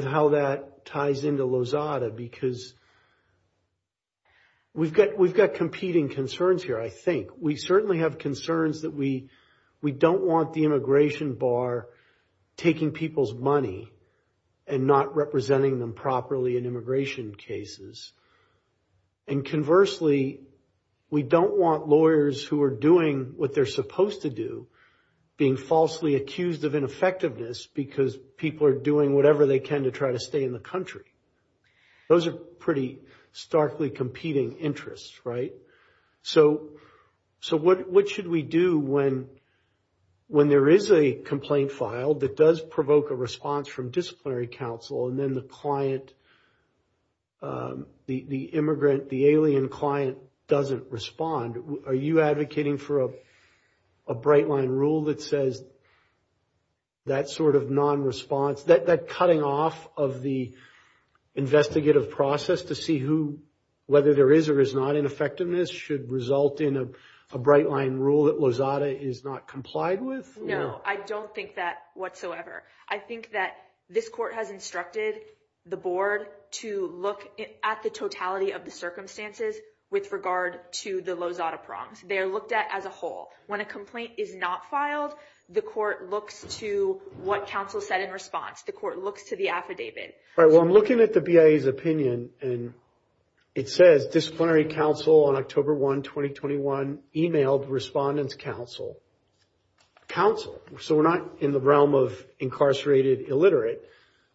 how that ties into Lozada because we've got competing concerns here, I think. We certainly have concerns that we don't want the immigration bar taking people's money and not representing them properly in immigration cases. And conversely, we don't want lawyers who are doing what they're supposed to do, being falsely accused of ineffectiveness because people are doing whatever they can to try to stay in the country. Those are pretty starkly competing interests, right? So what should we do when there is a complaint filed that does provoke a response from disciplinary counsel and then the client, the immigrant, the alien client doesn't respond? Are you advocating for a bright line rule that says that sort of non-response, that cutting off of the investigative process to see whether there is or is not ineffectiveness should result in a bright line rule that Lozada is not complied with? No, I don't think that whatsoever. I think that this court has instructed the board to look at the totality of the circumstances with regard to the Lozada prongs. They are looked at as a whole. When a complaint is not filed, the court looks to what counsel said in response. The court looks to the affidavit. All right, well, I'm looking at the BIA's opinion and it says disciplinary counsel on October 1, 2021 emailed Respondent's Counsel. Counsel, so we're not in the realm of incarcerated illiterate.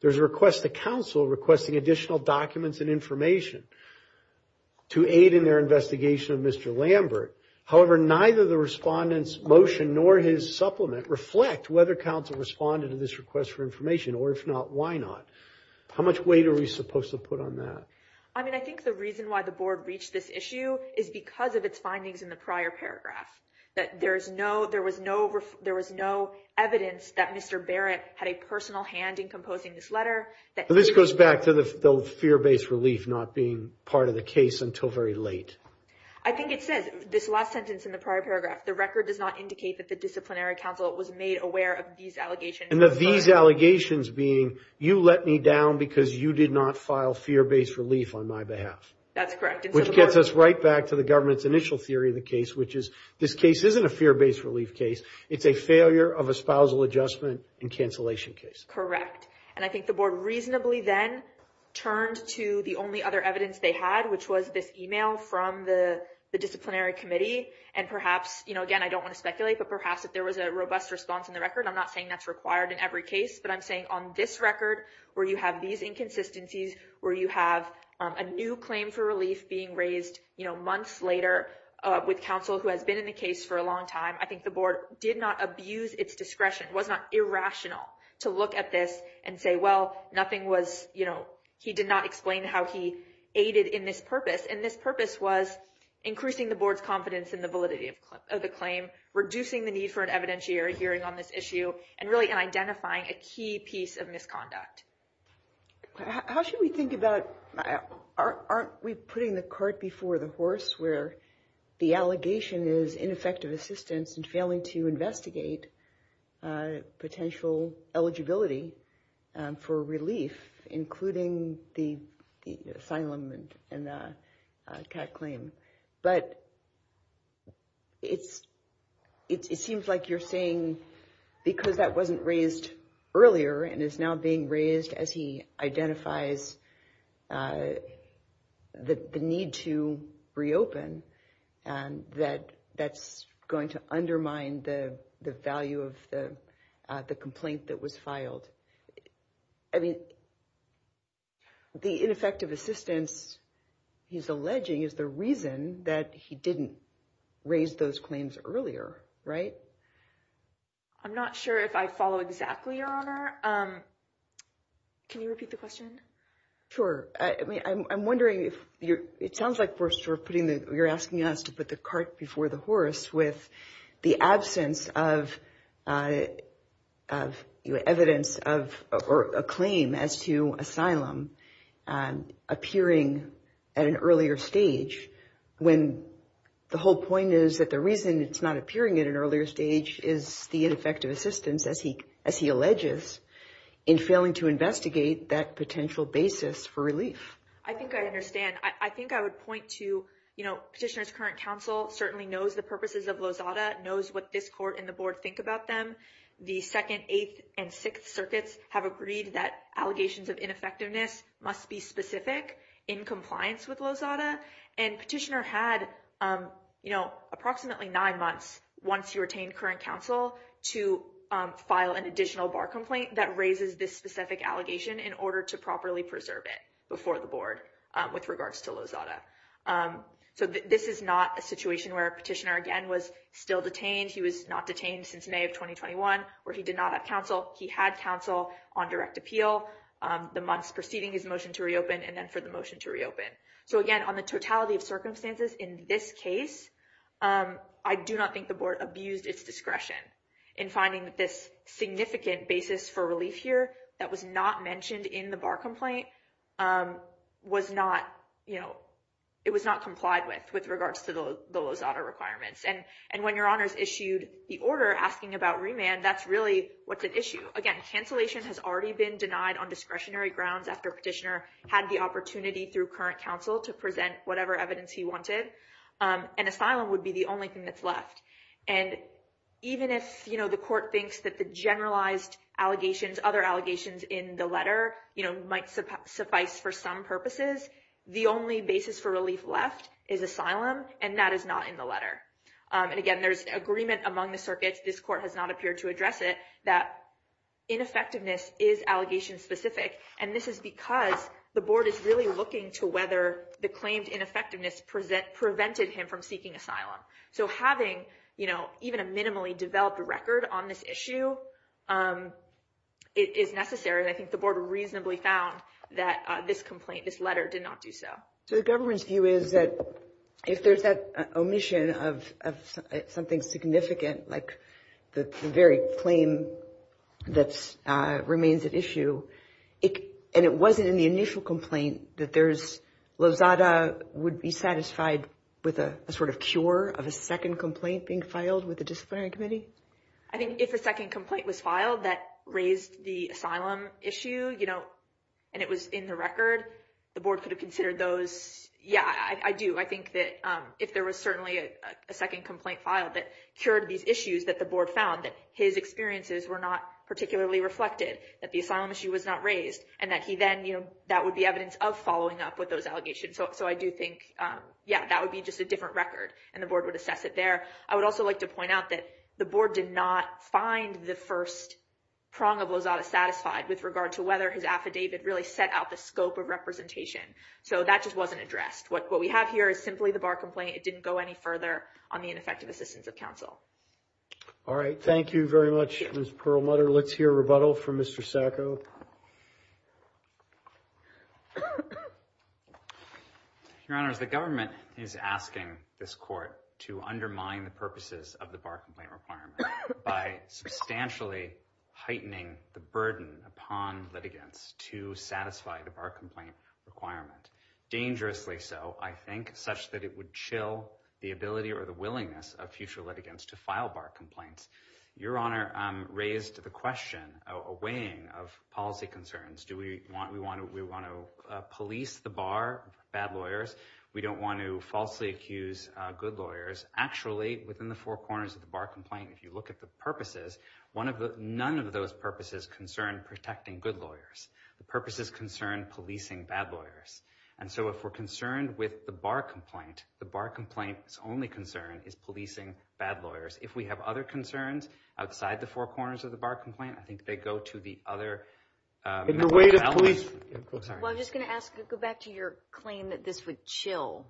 There's a request to counsel requesting additional documents and information to aid in their investigation of Mr. Lambert. However, neither the Respondent's motion nor his supplement reflect whether counsel responded to this request for information or if not, why not? How much weight are we supposed to put on that? I mean, I think the reason why the board reached this issue is because of its findings in the prior paragraph, that there was no evidence that Mr. Barrett had a personal hand in composing this letter. This goes back to the fear-based relief not being part of the case until very late. I think it says this last sentence in the prior paragraph. The record does not indicate that the disciplinary counsel was made aware of these allegations. And that these allegations being you let me down because you did not file fear-based relief on my behalf. That's correct. Which gets us right back to the government's initial theory of the case, which is this case isn't a fear-based relief case. It's a failure of a spousal adjustment and cancellation case. Correct. And I think the board reasonably then turned to the only other evidence they had, which was this email from the disciplinary committee. And perhaps, you know, again, I don't want to speculate, but perhaps if there was a robust response in the record, I'm not saying that's required in every case. But I'm saying on this record, where you have these inconsistencies, where you have a new claim for relief being raised months later with counsel who has been in the case for a long time. I think the board did not abuse its discretion, was not irrational to look at this and say, well, nothing was, you know, he did not explain how he aided in this purpose. And this purpose was increasing the board's confidence in the validity of the claim, reducing the need for an evidentiary hearing on this issue, and really identifying a key piece of misconduct. How should we think about, aren't we putting the cart before the horse, where the allegation is ineffective assistance and failing to investigate potential eligibility for relief, including the asylum and the cat claim? But it seems like you're saying because that wasn't raised earlier and is now being raised as he identifies the need to reopen, that that's going to undermine the value of the complaint that was filed. I mean, the ineffective assistance he's alleging is the reason that he didn't raise those claims earlier, right? I'm not sure if I follow exactly, Your Honor. Can you repeat the question? Sure. I mean, I'm wondering if you're, it sounds like we're sort of putting the, you're asking us to put the cart before the horse with the absence of evidence of, or a claim as to asylum appearing at an earlier stage. When the whole point is that the reason it's not appearing at an earlier stage is the ineffective assistance, as he alleges, in failing to investigate that potential basis for relief. I think I understand. I think I would point to, you know, Petitioner's current counsel certainly knows the purposes of Lozada, knows what this court and the board think about them. The 2nd, 8th, and 6th circuits have agreed that allegations of ineffectiveness must be specific in compliance with Lozada. And Petitioner had, you know, approximately nine months once he retained current counsel to file an additional bar complaint that raises this specific allegation in order to properly preserve it before the board with regards to Lozada. So this is not a situation where Petitioner, again, was still detained. He was not detained since May of 2021, where he did not have counsel. He had counsel on direct appeal the months preceding his motion to reopen and then for the motion to reopen. So again, on the totality of circumstances in this case, I do not think the board abused its discretion in finding that this significant basis for relief here that was not mentioned in the bar complaint was not, you know, it was not complied with with regards to the Lozada requirements. And when your honors issued the order asking about remand, that's really what's at issue. Again, cancellation has already been denied on discretionary grounds after Petitioner had the opportunity through current counsel to present whatever evidence he wanted. And asylum would be the only thing that's left. And even if, you know, the court thinks that the generalized allegations, other allegations in the letter, you know, might suffice for some purposes, the only basis for relief left is asylum, and that is not in the letter. And again, there's agreement among the circuits. This court has not appeared to address it, that ineffectiveness is allegation specific. And this is because the board is really looking to whether the claimed ineffectiveness present prevented him from seeking asylum. So having, you know, even a minimally developed record on this issue is necessary. I think the board reasonably found that this complaint, this letter did not do so. So the government's view is that if there's that omission of something significant, like the very claim that remains at issue, and it wasn't in the initial complaint, that Lozada would be satisfied with a sort of cure of a second complaint being filed with the disciplinary committee? I think if a second complaint was filed that raised the asylum issue, you know, and it was in the record, the board could have considered those. Yeah, I do. I think that if there was certainly a second complaint filed that cured these issues that the board found that his experiences were not particularly reflected, that the asylum issue was not raised, and that he then, you know, that would be evidence of following up with those allegations. So I do think, yeah, that would be just a different record, and the board would assess it there. I would also like to point out that the board did not find the first prong of Lozada satisfied with regard to whether his affidavit really set out the scope of representation. So that just wasn't addressed. What we have here is simply the bar complaint. It didn't go any further on the ineffective assistance of counsel. All right, thank you very much, Ms. Perlmutter. Let's hear a rebuttal from Mr. Sacco. Your Honor raised the question, a weighing of policy concerns. Do we want to police the bar, bad lawyers? We don't want to falsely accuse good lawyers. Actually, within the four corners of the bar complaint, if you look at the purposes, none of those purposes concern protecting good lawyers. The purposes concern policing bad lawyers. And so if we're concerned with the bar complaint, the bar complaint's only concern is policing bad lawyers. If we have other concerns outside the four corners of the bar complaint, I think they go to the other elements. Well, I'm just going to ask, go back to your claim that this would chill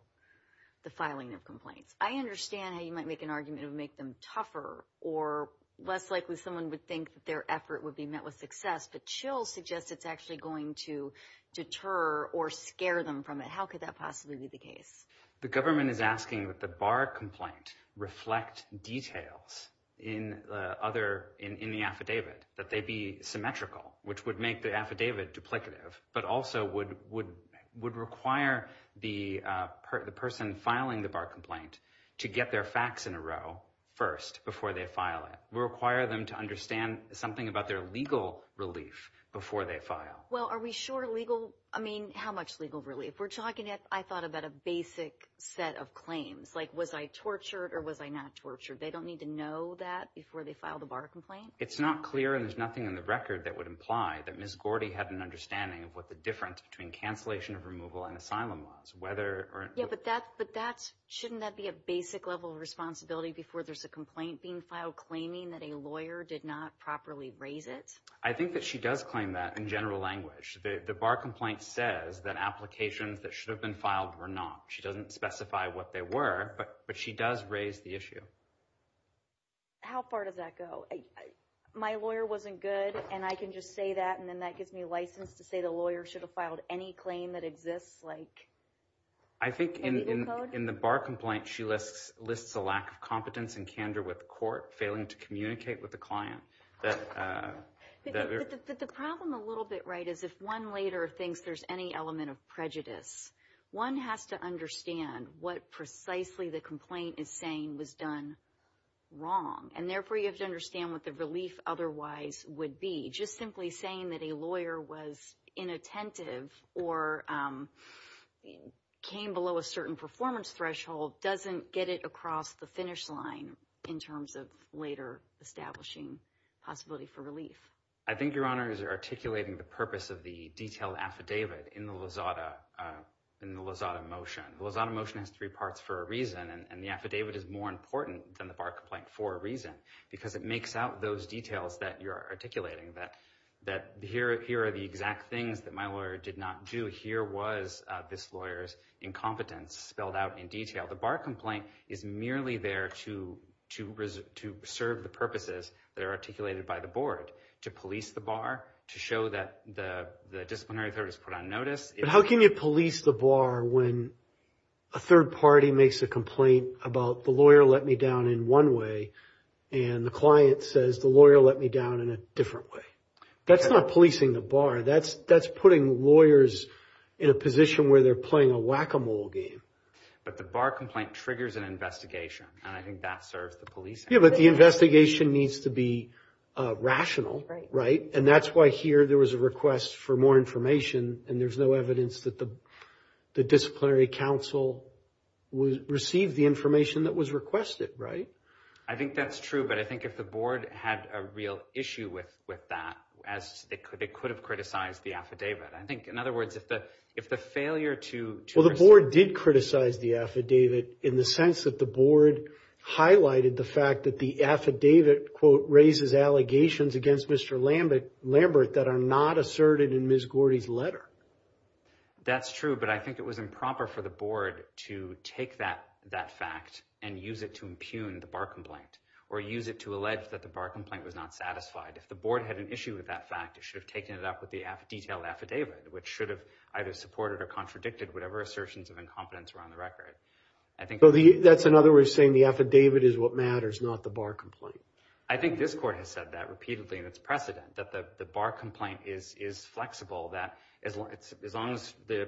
the filing of complaints. I understand how you might make an argument to make them tougher, or less likely someone would think that their effort would be met with success. But chill suggests it's actually going to deter or scare them from it. How could that possibly be the case? The government is asking that the bar complaint reflect details in the affidavit, that they be symmetrical, which would make the affidavit duplicative, but also would require the person filing the bar complaint to get their facts in a row first before they file it. It would require them to understand something about their legal relief before they file. Well, are we sure legal? I mean, how much legal relief? I thought about a basic set of claims, like was I tortured or was I not tortured? They don't need to know that before they file the bar complaint? It's not clear, and there's nothing in the record that would imply that Ms. Gordy had an understanding of what the difference between cancellation of removal and asylum was. Yeah, but shouldn't that be a basic level of responsibility before there's a complaint being filed claiming that a lawyer did not properly raise it? I think that she does claim that in general language. The bar complaint says that applications that should have been filed were not. She doesn't specify what they were, but she does raise the issue. How far does that go? My lawyer wasn't good, and I can just say that, and then that gives me license to say the lawyer should have filed any claim that exists? I think in the bar complaint, she lists a lack of competence and candor with the court, failing to communicate with the client. But the problem a little bit, right, is if one later thinks there's any element of prejudice, one has to understand what precisely the complaint is saying was done wrong. And therefore, you have to understand what the relief otherwise would be. Just simply saying that a lawyer was inattentive or came below a certain performance threshold doesn't get it across the finish line in terms of later establishing possibility for relief. I think Your Honor is articulating the purpose of the detailed affidavit in the Lozada motion. The Lozada motion has three parts for a reason, and the affidavit is more important than the bar complaint for a reason, because it makes out those details that you're articulating, that here are the exact things that my lawyer did not do. Here was this lawyer's incompetence spelled out in detail. The bar complaint is merely there to serve the purposes that are articulated by the board, to police the bar, to show that the disciplinary authority is put on notice. But how can you police the bar when a third party makes a complaint about the lawyer let me down in one way and the client says the lawyer let me down in a different way? That's not policing the bar. That's putting lawyers in a position where they're playing a whack-a-mole game. But the bar complaint triggers an investigation, and I think that serves the policing. Yeah, but the investigation needs to be rational, right? And that's why here there was a request for more information, and there's no evidence that the disciplinary counsel received the information that was requested, right? I think that's true, but I think if the board had a real issue with that, they could have criticized the affidavit. I think, in other words, if the failure to… Well, the board did criticize the affidavit in the sense that the board highlighted the fact that the affidavit, quote, raises allegations against Mr. Lambert that are not asserted in Ms. Gordy's letter. That's true, but I think it was improper for the board to take that fact and use it to impugn the bar complaint or use it to allege that the bar complaint was not satisfied. If the board had an issue with that fact, it should have taken it up with the detailed affidavit, which should have either supported or contradicted whatever assertions of incompetence were on the record. So that's, in other words, saying the affidavit is what matters, not the bar complaint? I think this court has said that repeatedly in its precedent, that the bar complaint is flexible, that as long as the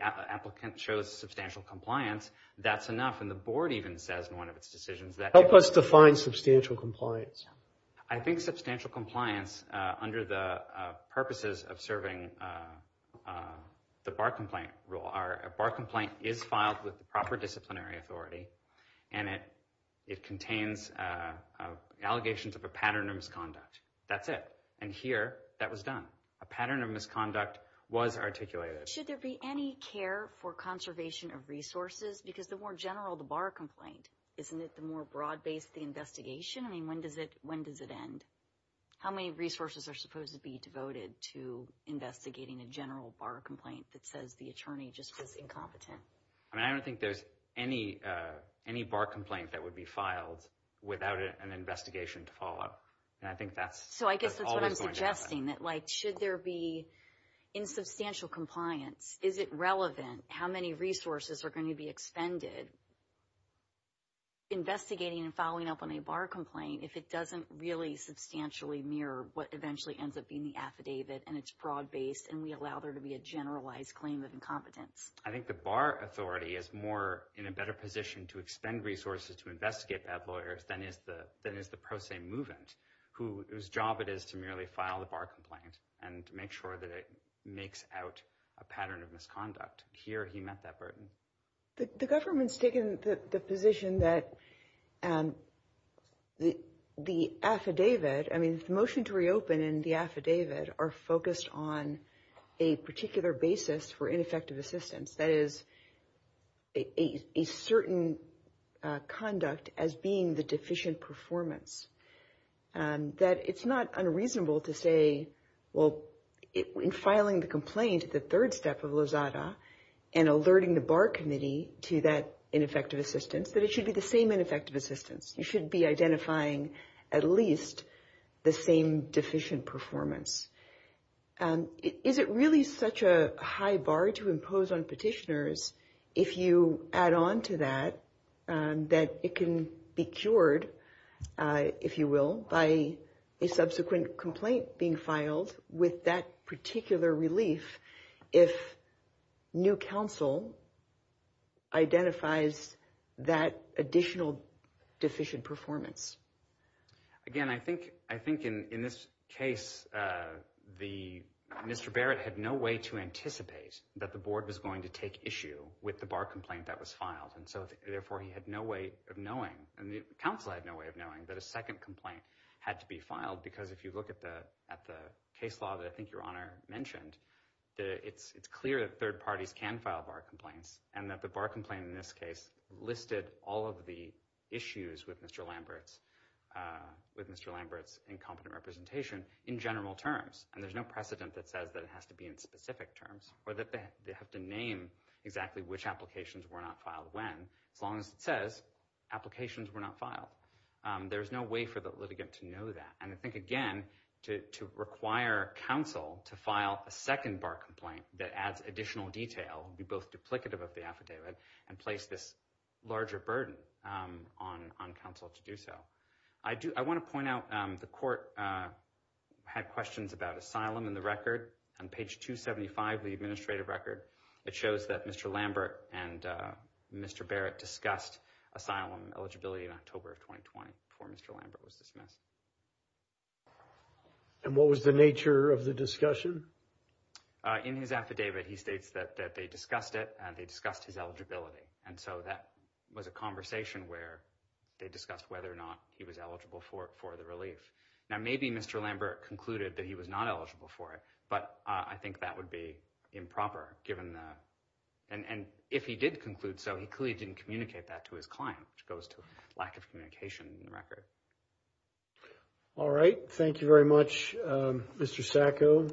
applicant shows substantial compliance, that's enough. And the board even says in one of its decisions that… Help us define substantial compliance. I think substantial compliance under the purposes of serving the bar complaint rule. A bar complaint is filed with the proper disciplinary authority, and it contains allegations of a pattern of misconduct. That's it. And here, that was done. A pattern of misconduct was articulated. Should there be any care for conservation of resources? Because the more general the bar complaint, isn't it the more broad-based the investigation? I mean, when does it end? How many resources are supposed to be devoted to investigating a general bar complaint that says the attorney just was incompetent? I don't think there's any bar complaint that would be filed without an investigation to follow up. So I guess that's what I'm suggesting, that should there be insubstantial compliance, is it relevant? How many resources are going to be expended investigating and following up on a bar complaint if it doesn't really substantially mirror what eventually ends up being the affidavit and it's broad-based and we allow there to be a generalized claim of incompetence? I think the bar authority is more in a better position to expend resources to investigate bad lawyers than is the pro se movement, whose job it is to merely file the bar complaint and make sure that it makes out a pattern of misconduct. Here, he met that burden. The government's taken the position that the affidavit, I mean, the motion to reopen and the affidavit are focused on a particular basis for ineffective assistance. That is a certain conduct as being the deficient performance. That it's not unreasonable to say, well, in filing the complaint, the third step of Lozada and alerting the bar committee to that ineffective assistance, that it should be the same ineffective assistance. You should be identifying at least the same deficient performance. Is it really such a high bar to impose on petitioners if you add on to that, that it can be cured, if you will, by a subsequent complaint being filed with that particular relief if new counsel identifies that additional deficient performance? Again, I think in this case, Mr. Barrett had no way to anticipate that the board was going to take issue with the bar complaint that was filed. Therefore, he had no way of knowing, and the counsel had no way of knowing, that a second complaint had to be filed. If you look at the case law that I think Your Honor mentioned, it's clear that third parties can file bar complaints and that the bar complaint in this case listed all of the issues with Mr. Lambert's incompetent representation in general terms. And there's no precedent that says that it has to be in specific terms, or that they have to name exactly which applications were not filed when, as long as it says applications were not filed. There's no way for the litigant to know that. And I think, again, to require counsel to file a second bar complaint that adds additional detail, be both duplicative of the affidavit, and place this larger burden on counsel to do so. I want to point out, the court had questions about asylum in the record. On page 275 of the administrative record, it shows that Mr. Lambert and Mr. Barrett discussed asylum eligibility in October of 2020, before Mr. Lambert was dismissed. And what was the nature of the discussion? In his affidavit, he states that they discussed it and they discussed his eligibility. And so that was a conversation where they discussed whether or not he was eligible for the relief. Now, maybe Mr. Lambert concluded that he was not eligible for it, but I think that would be improper, given that. And if he did conclude so, he clearly didn't communicate that to his client, which goes to lack of communication in the record. All right. Thank you very much, Mr. Sacco.